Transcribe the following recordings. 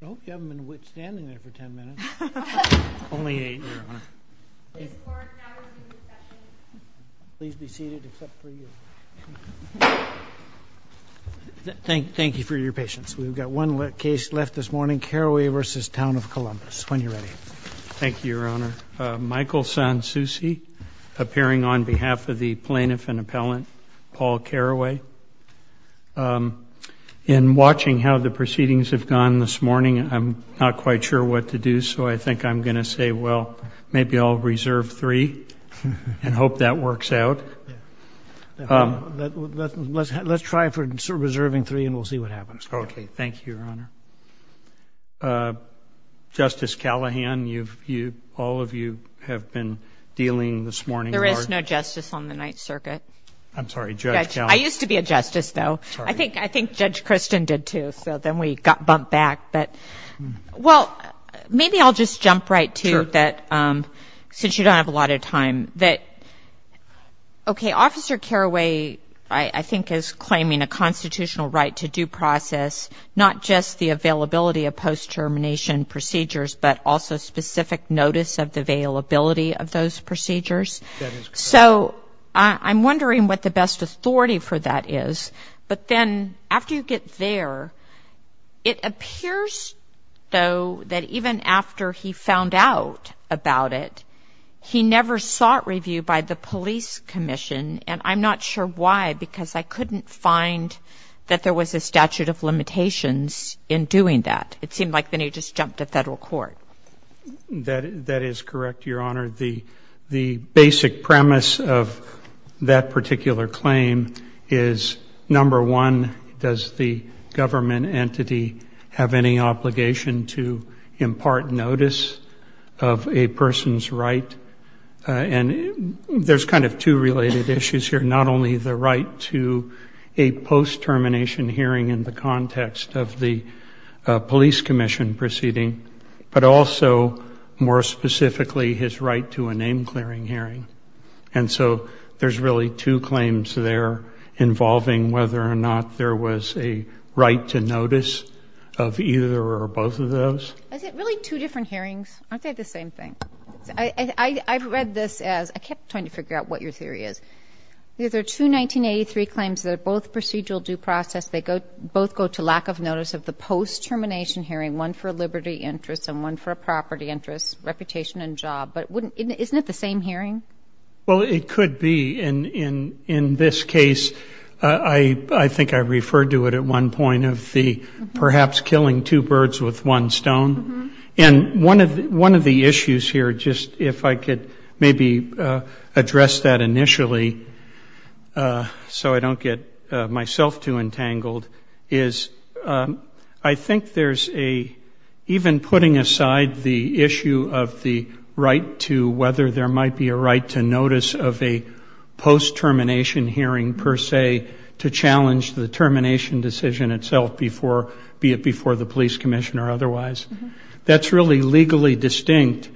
Thank you for your patience. We've got one case left this morning, Caraway v. Town of Columbus. When you're ready. Thank you, Your Honor. Michael Sansousi, appearing on the night circuit. I'm sorry, Judge Callahan. I used to be a justice, though. I think Judge Christian did, too, so then we got bumped back. But, well, maybe I'll just jump right to that, since you don't have a lot of time, that, okay, Officer Caraway, I think, is claiming a constitutional right to due process, not just the availability of post-termination procedures, but also specific notice of the availability of those procedures. So I'm wondering what the best authority for that is. But then, after you get there, it appears, though, that even after he found out about it, he never sought review by the police commission, and I'm not sure why, because I couldn't find that there was a statute of limitations in doing that. It seemed like then he just jumped to federal court. That is correct, Your Honor. The basic premise of that particular claim is, number one, does the government entity have any obligation to impart notice of a person's right? And there's kind of two related issues here. Not only the right to a post-termination hearing in the context of the police commission proceeding, but also, more specifically, his right to a name-clearing hearing. And so there's really two claims there involving whether or not there was a right to notice of either or both of those. Is it really two different hearings? Aren't they the same thing? I read this as, I kept trying to figure out what your theory is. These are two 1983 claims that are both procedural due process. They both go to lack of notice of the post-termination hearing, one for a liberty interest and one for a property interest, reputation and job. But isn't it the same hearing? Well, it could be. In this case, I think I referred to it at one point of the perhaps killing two birds with one stone. And one of the issues here, just if I could maybe address that initially so I don't get myself too entangled, is I think there's a, even putting aside the issue of the right to, whether there might be a right to notice of a post-termination hearing, per se, to challenge the termination decision itself, be it before the police commission or otherwise, that's really legally distinct.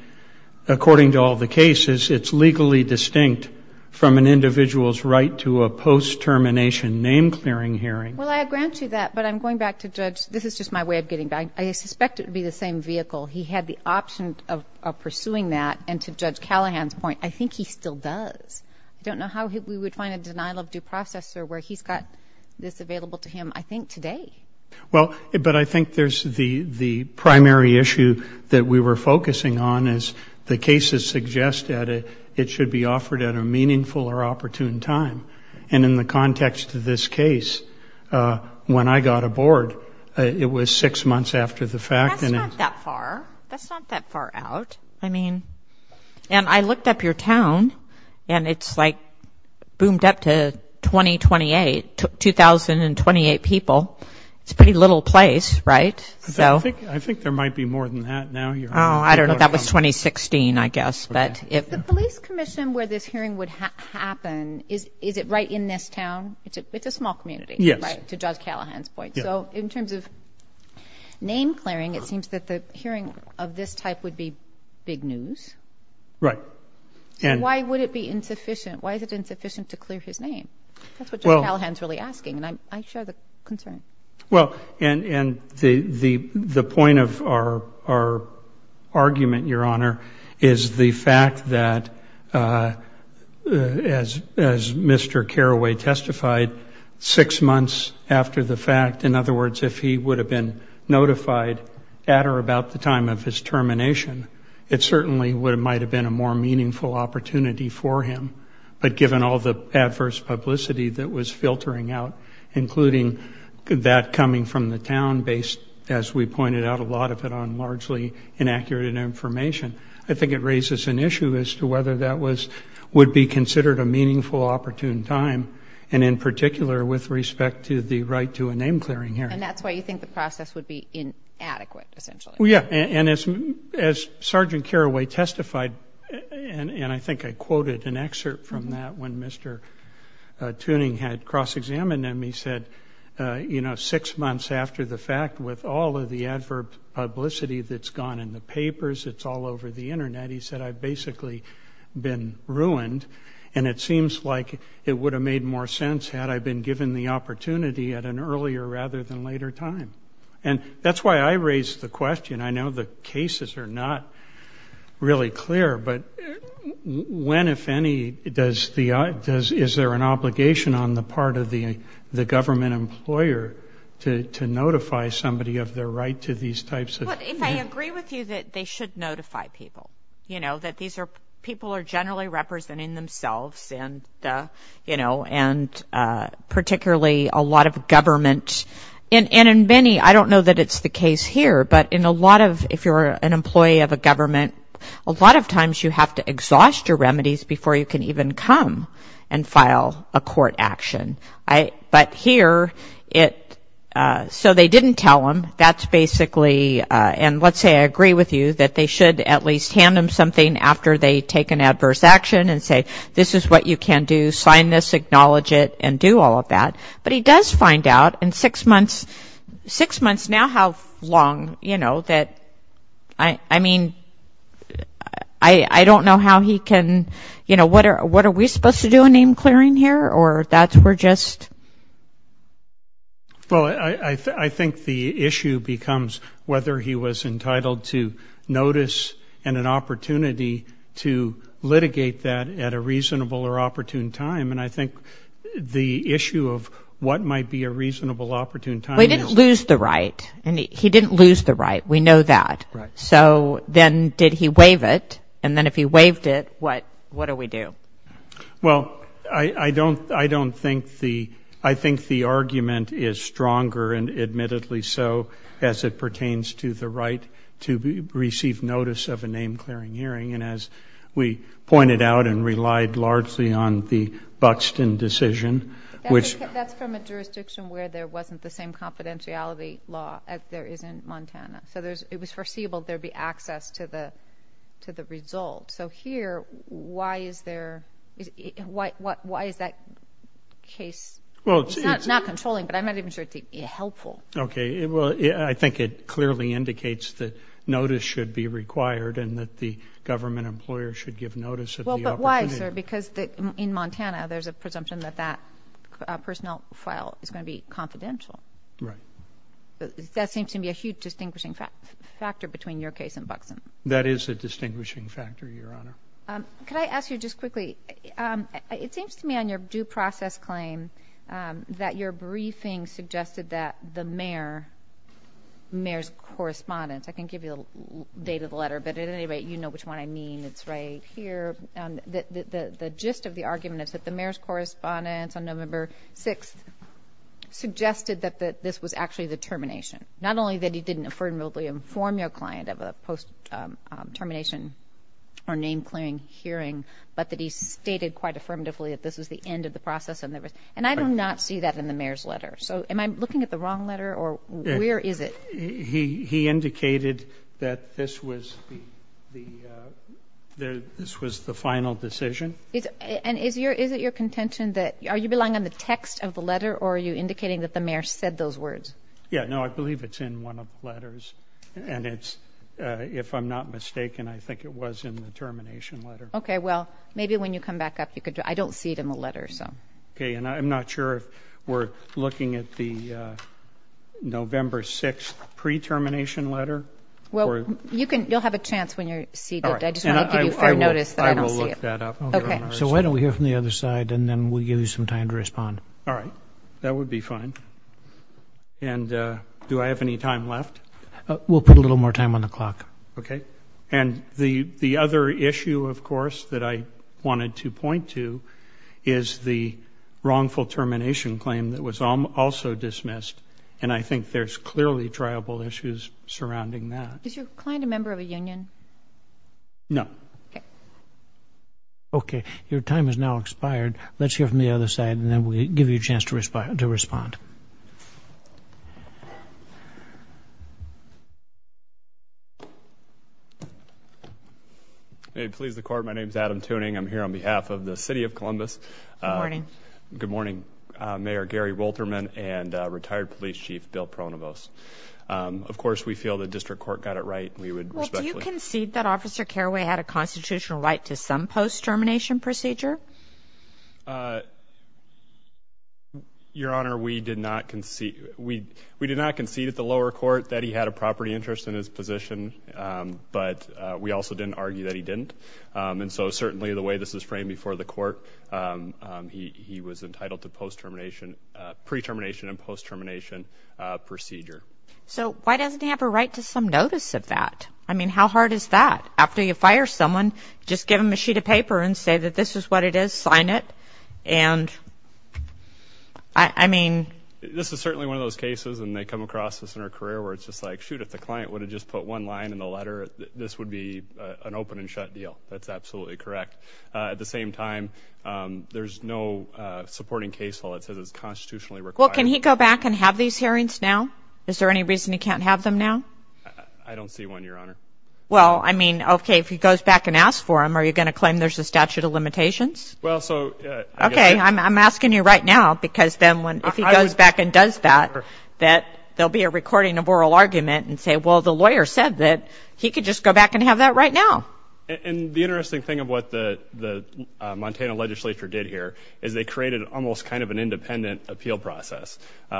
According to all the cases, it's legally distinct from an individual's right to a post-termination name-clearing hearing. Well, I grant you that. But I'm going back to Judge, this is just my way of getting back, I suspect it would be the same vehicle. He had the option of pursuing that. And to Judge Callahan's point, I think he still does. I don't know how we would find a denial of due process where he's got this available to him, I think, today. Well, but I think there's the primary issue that we were focusing on is the cases suggest that it should be offered at a meaningful or opportune time. And in the context of this case, when I got aboard, it was six months after the fact. That's not that far. That's not that far out. I mean, and I looked up your town, and it's like boomed up to 2028, 2,028 people. It's a pretty little place, right? I think there might be more than that now. Oh, I don't know. That was 2016, I guess. The police commission where this hearing would happen, is it right in this town? It's a small community, right? To Judge Callahan's point. So in terms of name-clearing, it seems that the hearing of this type would be big news. Right. Why would it be insufficient? Why is it insufficient to clear his name? That's what Judge Callahan's really asking, and I share the concern. Well, and the point of our argument, Your Honor, is the fact that, as Mr. Carraway testified, six months after the fact, in other words, if he would have been notified at or about the time of his termination, it certainly might have been a more meaningful opportunity for him. But given all the adverse publicity that was filtering out, including that coming from the town based, as we pointed out, a lot of it on largely inaccurate information, I think it raises an issue as to whether that would be considered a meaningful opportune time, and in particular, with respect to the right to a name-clearing hearing. And that's why you think the process would be inadequate, essentially. Well, yeah, and as Sergeant Carraway testified, and I think I quoted an excerpt from that when Mr. Tuning had cross-examined him, he said, you know, six months after the fact, with all of the adverb publicity that's gone in the papers, it's all over the Internet, he said, I've basically been ruined, and it seems like it would have made more sense had I been given the opportunity at an earlier rather than later time. And that's why I raised the question. I know the cases are not really clear, but when, if any, is there an obligation on the part of the government employer to notify somebody of their right to these types of hearings? Well, if I agree with you that they should notify people, you know, that people are generally representing themselves and, you know, and particularly a lot of government. And in many, I don't know that it's the case here, but in a lot of, if you're an employee of a government, a lot of times you have to exhaust your remedies before you can even come and file a court action. But here, it, so they didn't tell him, that's basically, and let's say I agree with you that they should at least hand him something after they take an adverse action and say, this is what you can do, sign this, acknowledge it, and do all of that. But he does find out in six months, six months now how long, you know, that, I mean, I don't know how he can, you know, what are we supposed to do in name clearing here? Or that's, we're just? Well, I think the issue becomes whether he was entitled to notice and an opportunity to litigate that at a reasonable or opportune time. And I think the issue of what might be a reasonable opportune time is. But he didn't lose the right. He didn't lose the right. We know that. Right. So then did he waive it? And then if he waived it, what do we do? Well, I don't think the, I think the argument is stronger, and admittedly so, as it pertains to the right to receive notice of a name clearing hearing. And as we pointed out and relied largely on the Buxton decision, which. That's from a jurisdiction where there wasn't the same confidentiality law as there is in Montana. So there's, it was foreseeable there would be access to the result. So here, why is there, why is that case? It's not controlling, but I'm not even sure it's helpful. Okay. Well, I think it clearly indicates that notice should be required and that the government employer should give notice of the opportunity. Well, but why, sir? Because in Montana, there's a presumption that that personnel file is going to be confidential. Right. That seems to me a huge distinguishing factor between your case and Buxton. That is a distinguishing factor, Your Honor. Could I ask you just quickly, it seems to me on your due process claim that your briefing suggested that the mayor, mayor's correspondence, I can give you the date of the letter, but at any rate, you know which one I mean. It's right here. The gist of the argument is that the mayor's correspondence on November 6th suggested that this was actually the termination. Not only that he didn't affirmatively inform your client of a post-termination or name clearing hearing, but that he stated quite affirmatively that this was the end of the process. And I do not see that in the mayor's letter. So am I looking at the wrong letter or where is it? He indicated that this was the final decision. And is it your contention that, are you relying on the text of the letter or are you indicating that the mayor said those words? Yeah. No, I believe it's in one of the letters and it's, if I'm not mistaken, I think it was in the termination letter. Okay. Well, maybe when you come back up, you could, I don't see it in the letter, so. Okay. And I'm not sure if we're looking at the November 6th pre-termination letter. Well, you can, you'll have a chance when you're seated. I just want to give you fair notice that I don't see it. I will look that up. Okay. So why don't we hear from the other side and then we'll give you some time to respond. All right. That would be fine. And do I have any time left? We'll put a little more time on the clock. Okay. And the other issue, of course, that I wanted to point to is the wrongful termination claim that was also dismissed. And I think there's clearly triable issues surrounding that. Is your client a member of a union? No. Okay. Your time has now expired. Let's hear from the other side and then we'll give you a chance to respond. May it please the court. My name is Adam Tuning. I'm here on behalf of the City of Columbus. Good morning. Good morning. Mayor Gary Wolterman and retired police chief Bill Pronovost. Of course, we feel the district court got it right. Well, do you concede that Officer Carraway had a constitutional right to some post-termination procedure? Your Honor, we did not concede. We did not concede at the lower court that he had a property interest in his position. But we also didn't argue that he didn't. And so certainly the way this is framed before the court, he was entitled to post-termination, pre-termination and post-termination procedure. So why doesn't he have a right to some notice of that? I mean, how hard is that? After you fire someone, just give them a sheet of paper and say that this is what it is, sign it. And I mean... This is certainly one of those cases and they come across this in our career where it's just like, shoot, if the client would have just put one line in the letter, this would be an open and shut deal. That's absolutely correct. At the same time, there's no supporting case law that says it's constitutionally required. Well, can he go back and have these hearings now? Is there any reason he can't have them now? I don't see one, Your Honor. Well, I mean, okay, if he goes back and asks for them, are you going to claim there's a statute of limitations? Well, so... Okay, I'm asking you right now because then if he goes back and does that, that there'll be a recording of oral argument and say, well, the lawyer said that he could just go back and have that right now. And the interesting thing of what the Montana legislature did here is they created almost kind of an independent appeal process.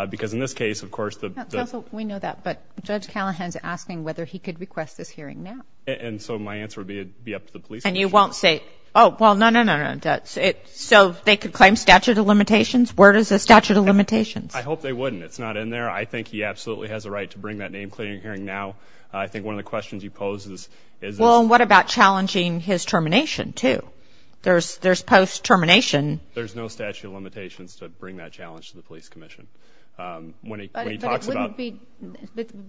Because in this case, of course, the... We know that, but Judge Callahan's asking whether he could request this hearing now. And so my answer would be up to the police. And you won't say, oh, well, no, no, no, no. So they could claim statute of limitations? Where is the statute of limitations? I hope they wouldn't. It's not in there. I think he absolutely has a right to bring that name-clearing hearing now. I think one of the questions he poses is... Well, and what about challenging his termination, too? There's post-termination... There's no statute of limitations to bring that challenge to the police commission. When he talks about... But it wouldn't be...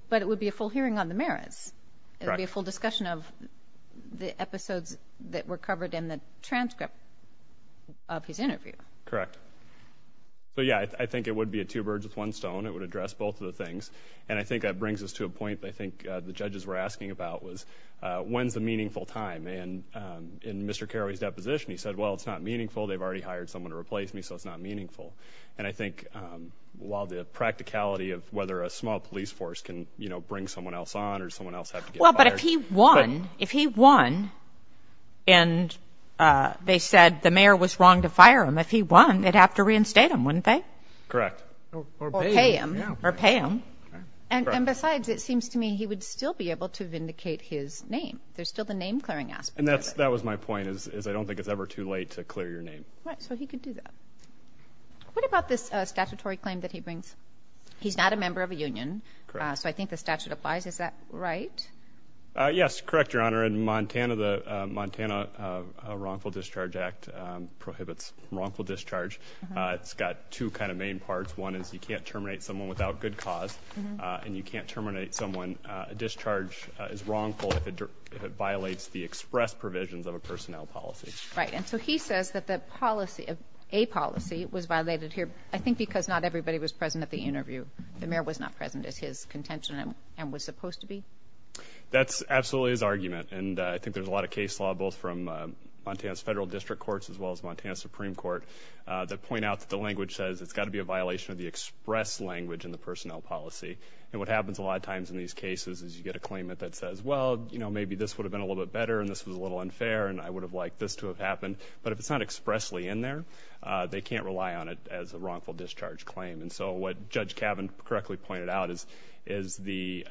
But it would be a full hearing on the merits. Correct. It would be a full discussion of the episodes that were covered in the transcript of his interview. Correct. So, yeah, I think it would be a two birds with one stone. It would address both of the things. And I think that brings us to a point I think the judges were asking about was, when's the meaningful time? And in Mr. Carraway's deposition, he said, well, it's not meaningful. They've already hired someone to replace me, so it's not meaningful. And I think while the practicality of whether a small police force can, you know, bring someone else on or someone else have to get fired... If he won, they'd have to reinstate him, wouldn't they? Correct. Or pay him. Or pay him. And besides, it seems to me he would still be able to vindicate his name. There's still the name-clearing aspect of it. And that was my point, is I don't think it's ever too late to clear your name. Right, so he could do that. What about this statutory claim that he brings? He's not a member of a union, so I think the statute applies. Is that right? Yes, correct, Your Honor. In Montana, the Montana Wrongful Discharge Act prohibits wrongful discharge. It's got two kind of main parts. One is you can't terminate someone without good cause, and you can't terminate someone. A discharge is wrongful if it violates the express provisions of a personnel policy. Right, and so he says that the policy, a policy, was violated here, I think because not everybody was present at the interview. The mayor was not present as his contention and was supposed to be. That's absolutely his argument, and I think there's a lot of case law, both from Montana's federal district courts as well as Montana's Supreme Court, that point out that the language says it's got to be a violation of the express language in the personnel policy. And what happens a lot of times in these cases is you get a claimant that says, well, you know, maybe this would have been a little bit better, and this was a little unfair, and I would have liked this to have happened. But if it's not expressly in there, they can't rely on it as a wrongful discharge claim. And so what Judge Cavan correctly pointed out is the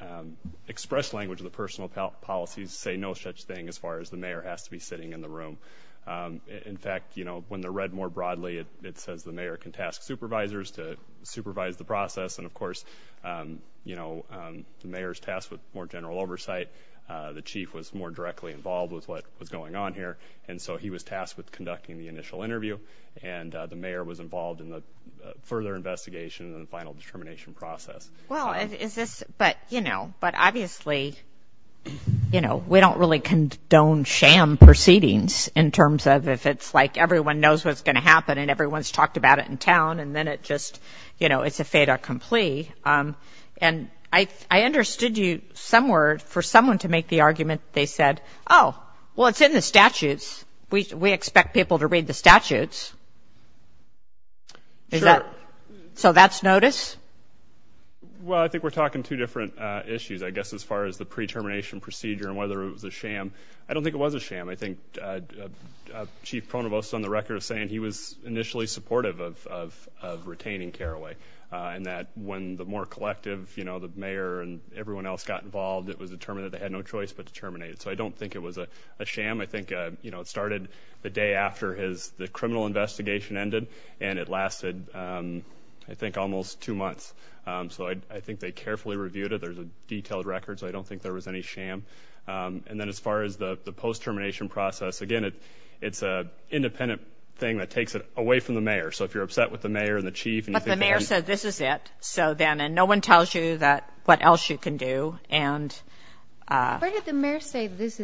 express language of the personnel policies say no such thing as far as the mayor has to be sitting in the room. In fact, you know, when they're read more broadly, it says the mayor can task supervisors to supervise the process, and of course, you know, the mayor's tasked with more general oversight. The chief was more directly involved with what was going on here, and so he was tasked with conducting the initial interview, and the mayor was involved in the further investigation and the final determination process. Well, is this, but you know, but obviously, you know, we don't really condone sham proceedings in terms of if it's like everyone knows what's going to happen, and everyone's talked about it in town, and then it just, you know, it's a fait accompli. And I understood you somewhere for someone to make the argument, they said, oh, well, it's in the statutes. We expect people to read the statutes. Is that, so that's notice? Well, I think we're talking two different issues, I guess, as far as the pre-termination procedure and whether it was a sham. I don't think it was a sham. I think Chief Pronovost on the record is saying he was initially supportive of retaining Carraway, and that when the more determined that they had no choice but to terminate it. So I don't think it was a sham. I think, you know, it started the day after his, the criminal investigation ended, and it lasted, I think, almost two months. So I think they carefully reviewed it. There's a detailed record, so I don't think there was any sham. And then as far as the post-termination process, again, it's an independent thing that takes it away from the mayor. So if you're upset with the mayor and the chief, and you think that he's... Where did the mayor say this is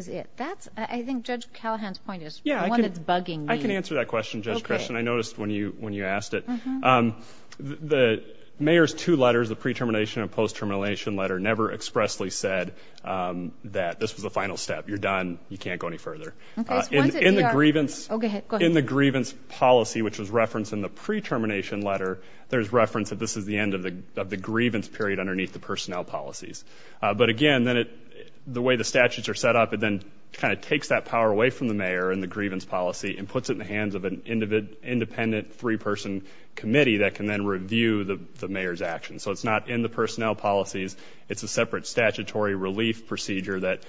it? That's, I think, Judge Callahan's point is one that's bugging me. I can answer that question, Judge Creshton. I noticed when you asked it. The mayor's two letters, the pre-termination and post-termination letter, never expressly said that this was the final step. You're done. You can't go any further. In the grievance policy, which was referenced in the pre-termination letter, there's reference that this is the end of the grievance period underneath the personnel policies. But again, the way the statutes are set up, it then kind of takes that power away from the mayor in the grievance policy and puts it in the hands of an independent three-person committee that can then review the mayor's actions. So it's not in the personnel policies. It's a separate statutory relief procedure that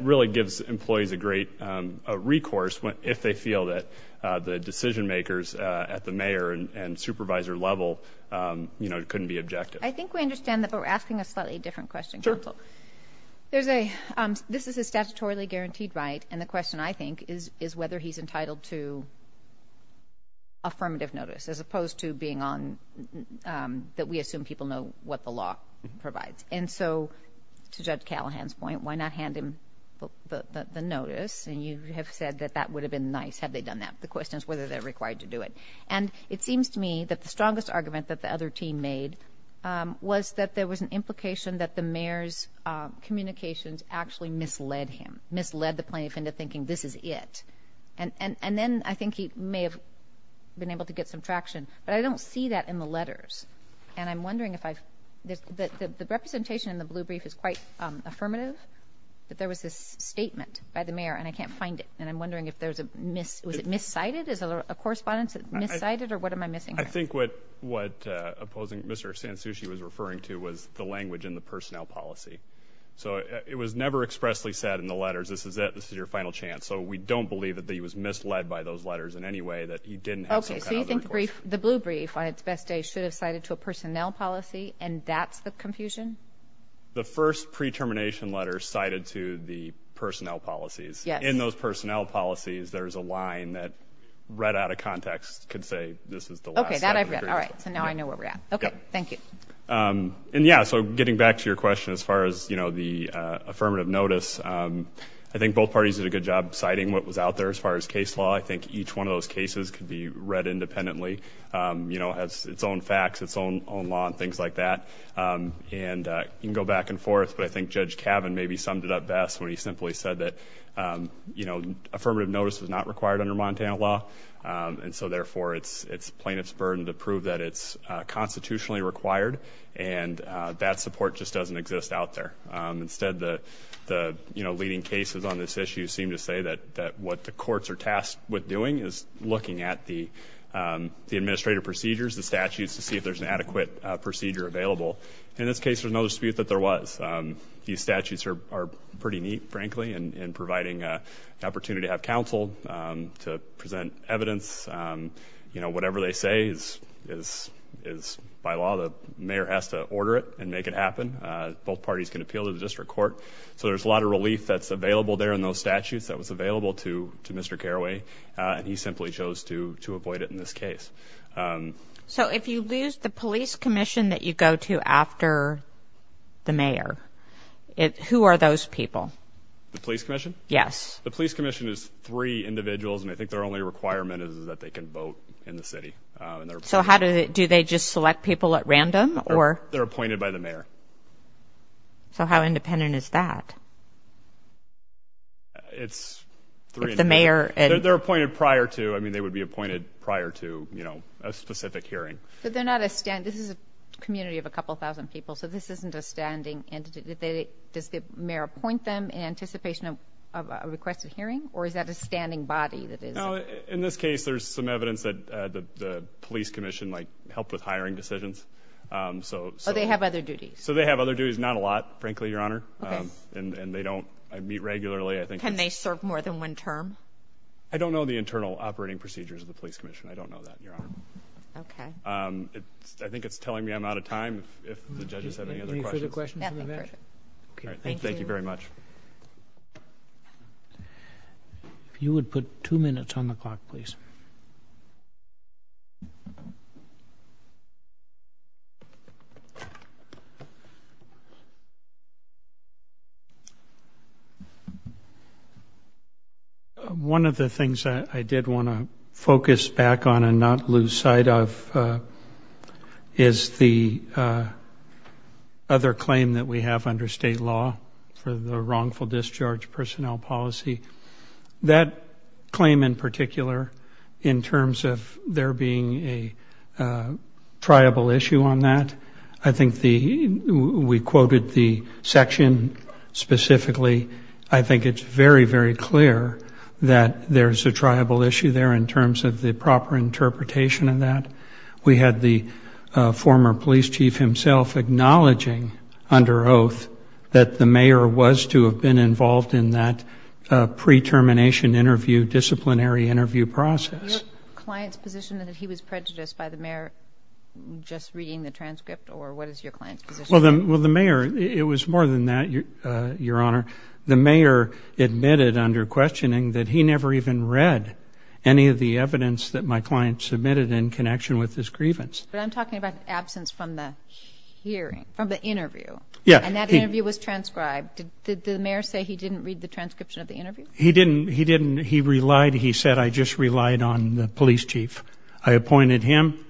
really gives employees a great recourse if they feel that the decision makers at the mayor and supervisor level couldn't be objective. I think we understand that, but we're asking a slightly different question, counsel. This is a statutorily guaranteed right, and the question, I think, is whether he's entitled to affirmative notice, as opposed to being on, that we assume people know what the law provides. And so, to Judge Callahan's point, why not hand him the notice, and you have said that that would have been nice had they done that. The question is whether they're And it seems to me that the strongest argument that the other team made was that there was an implication that the mayor's communications actually misled him, misled the plaintiff into thinking this is it. And then I think he may have been able to get some traction, but I don't see that in the letters. And I'm wondering if I've, the representation in the blue brief is quite affirmative, but there was this statement by the mayor, and I can't miss it. I think what opposing Mr. Sansucci was referring to was the language in the personnel policy. So it was never expressly said in the letters, this is it, this is your final chance. So we don't believe that he was misled by those letters in any way, that he didn't have some kind of recourse. Okay, so you think the blue brief, on its best day, should have cited to a personnel policy, and that's the confusion? The first pre-termination letter cited to the personnel policies. In those personnel policies, there's a line that, could say this is the last. Okay, that I've read. All right, so now I know where we're at. Okay, thank you. And yeah, so getting back to your question, as far as, you know, the affirmative notice, I think both parties did a good job citing what was out there as far as case law. I think each one of those cases could be read independently, you know, has its own facts, its own law, and things like that. And you can go back and forth, but I think Judge Cavan maybe summed it up best when he simply said that, you know, affirmative notice was not required under Montana law, and so therefore, it's plaintiff's burden to prove that it's constitutionally required, and that support just doesn't exist out there. Instead, the, you know, leading cases on this issue seem to say that what the courts are tasked with doing is looking at the administrative procedures, the statutes, to see if there's an adequate procedure available. In this case, there's no dispute that there was. These statutes are pretty neat, frankly, in providing an evidence. You know, whatever they say is by law. The mayor has to order it and make it happen. Both parties can appeal to the district court. So there's a lot of relief that's available there in those statutes that was available to Mr. Caraway, and he simply chose to avoid it in this case. So if you lose the police commission that you go to after the mayor, who are those people? The police commission? Yes. The police commission is three individuals, and I think there only requirement is that they can vote in the city. So how do they, do they just select people at random, or? They're appointed by the mayor. So how independent is that? It's three. The mayor. They're appointed prior to, I mean, they would be appointed prior to, you know, a specific hearing. But they're not a, this is a community of a couple thousand people, so this isn't a standing entity. Does the mayor appoint them in anticipation of a requested hearing, or is that a standing body that isn't? No, in this case there's some evidence that the police commission might help with hiring decisions. So they have other duties? So they have other duties. Not a lot, frankly, Your Honor. Okay. And they don't meet regularly, I think. Can they serve more than one term? I don't know the internal operating procedures of the police commission. I don't know that, Your Honor. Okay. I think it's telling me I'm out of time, if the judges have any other questions. Any further questions? Thank you very much. If you would put two minutes on the clock, please. One of the things that I did want to focus back on and not lose sight of is the other claim that we have under state law for the wrongful discharge personnel policy. That claim in particular, in terms of there being a triable issue on that, I think the, we quoted the section specifically, I think it's very, very clear that there's a triable issue there in terms of the proper interpretation of that. We had the former police chief himself acknowledging under oath that the mayor was to have been involved in that pre-termination interview, disciplinary interview process. Your client's position that he was prejudiced by the mayor just reading the transcript, or what is your client's position? Well, the mayor, it was more than that, Your Honor. The mayor admitted under questioning that he never even read any of the evidence that my client submitted in connection with his grievance. But I'm talking about absence from the hearing, from the interview. Yeah. And that interview was transcribed. Did the mayor say he didn't read the transcription of the interview? He didn't. He didn't. He relied, he said, I just relied on the police chief. I appointed him,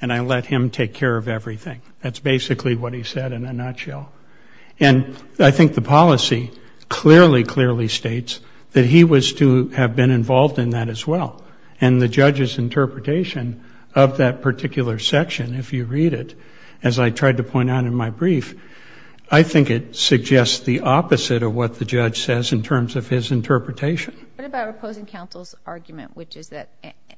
and I let him take care of everything. That's basically what he said in a nutshell. And I think the policy clearly, clearly states that he was to have been involved in that as well. And the judge's interpretation of that particular section, if you read it, as I tried to point out in my brief, I think it suggests the opposite of what the judge says in terms of his interpretation. What about opposing counsel's argument, which is that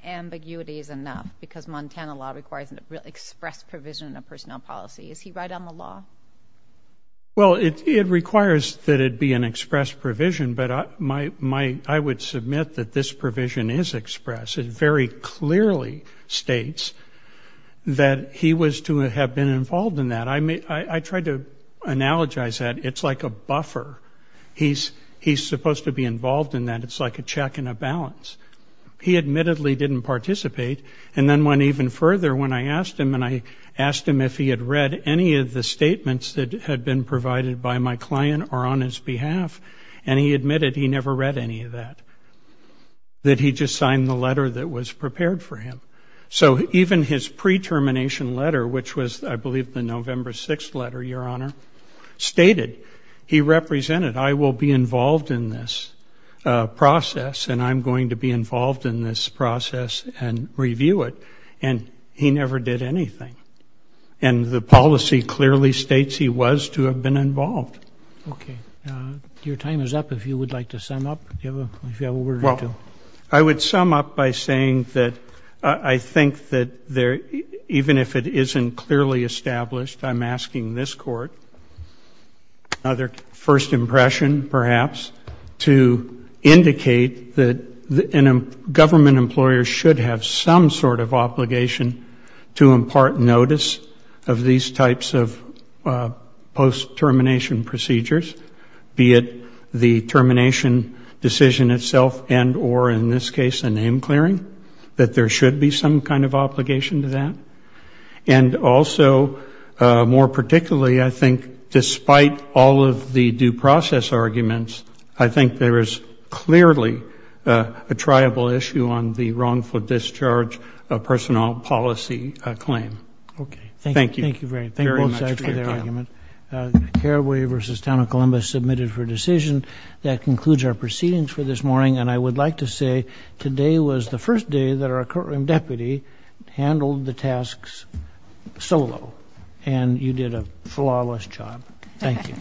ambiguity is enough because Montana law requires an express provision of personnel policy. Is he right on the law? Well, it requires that it be an express provision, but I would submit that this provision is express. It very clearly states that he was to have been involved in that. I tried to analogize that. It's like a buffer. He's supposed to be involved in that. It's like a check and a balance. He admittedly didn't participate. And then went even further when I asked him, and I have, and he admitted he never read any of that, that he just signed the letter that was prepared for him. So even his pre-termination letter, which was, I believe, the November 6th letter, Your Honor, stated he represented, I will be involved in this process, and I'm going to be involved in this process and review it. And he never did anything. And the policy clearly states he was to have been involved. Okay. Your time is up, if you would like to sum up, if you have a word or two. I would sum up by saying that I think that even if it isn't clearly established, I'm asking this Court, another first impression, perhaps, to indicate that a government employer should have some sort of obligation to impart notice of these types of post-termination procedures, be it the termination decision itself and or, in this case, a name clearing, that there should be some kind of obligation to that. And also, more particularly, I think, despite all of the due personnel policy claim. Okay. Thank you. Thank you very much for that argument. Carraway v. Town of Columbus submitted for decision. That concludes our proceedings for this morning, and I would like to say today was the first day that our Courtroom Deputy handled the tasks solo, and you did a flawless job. Thank you. Thank you.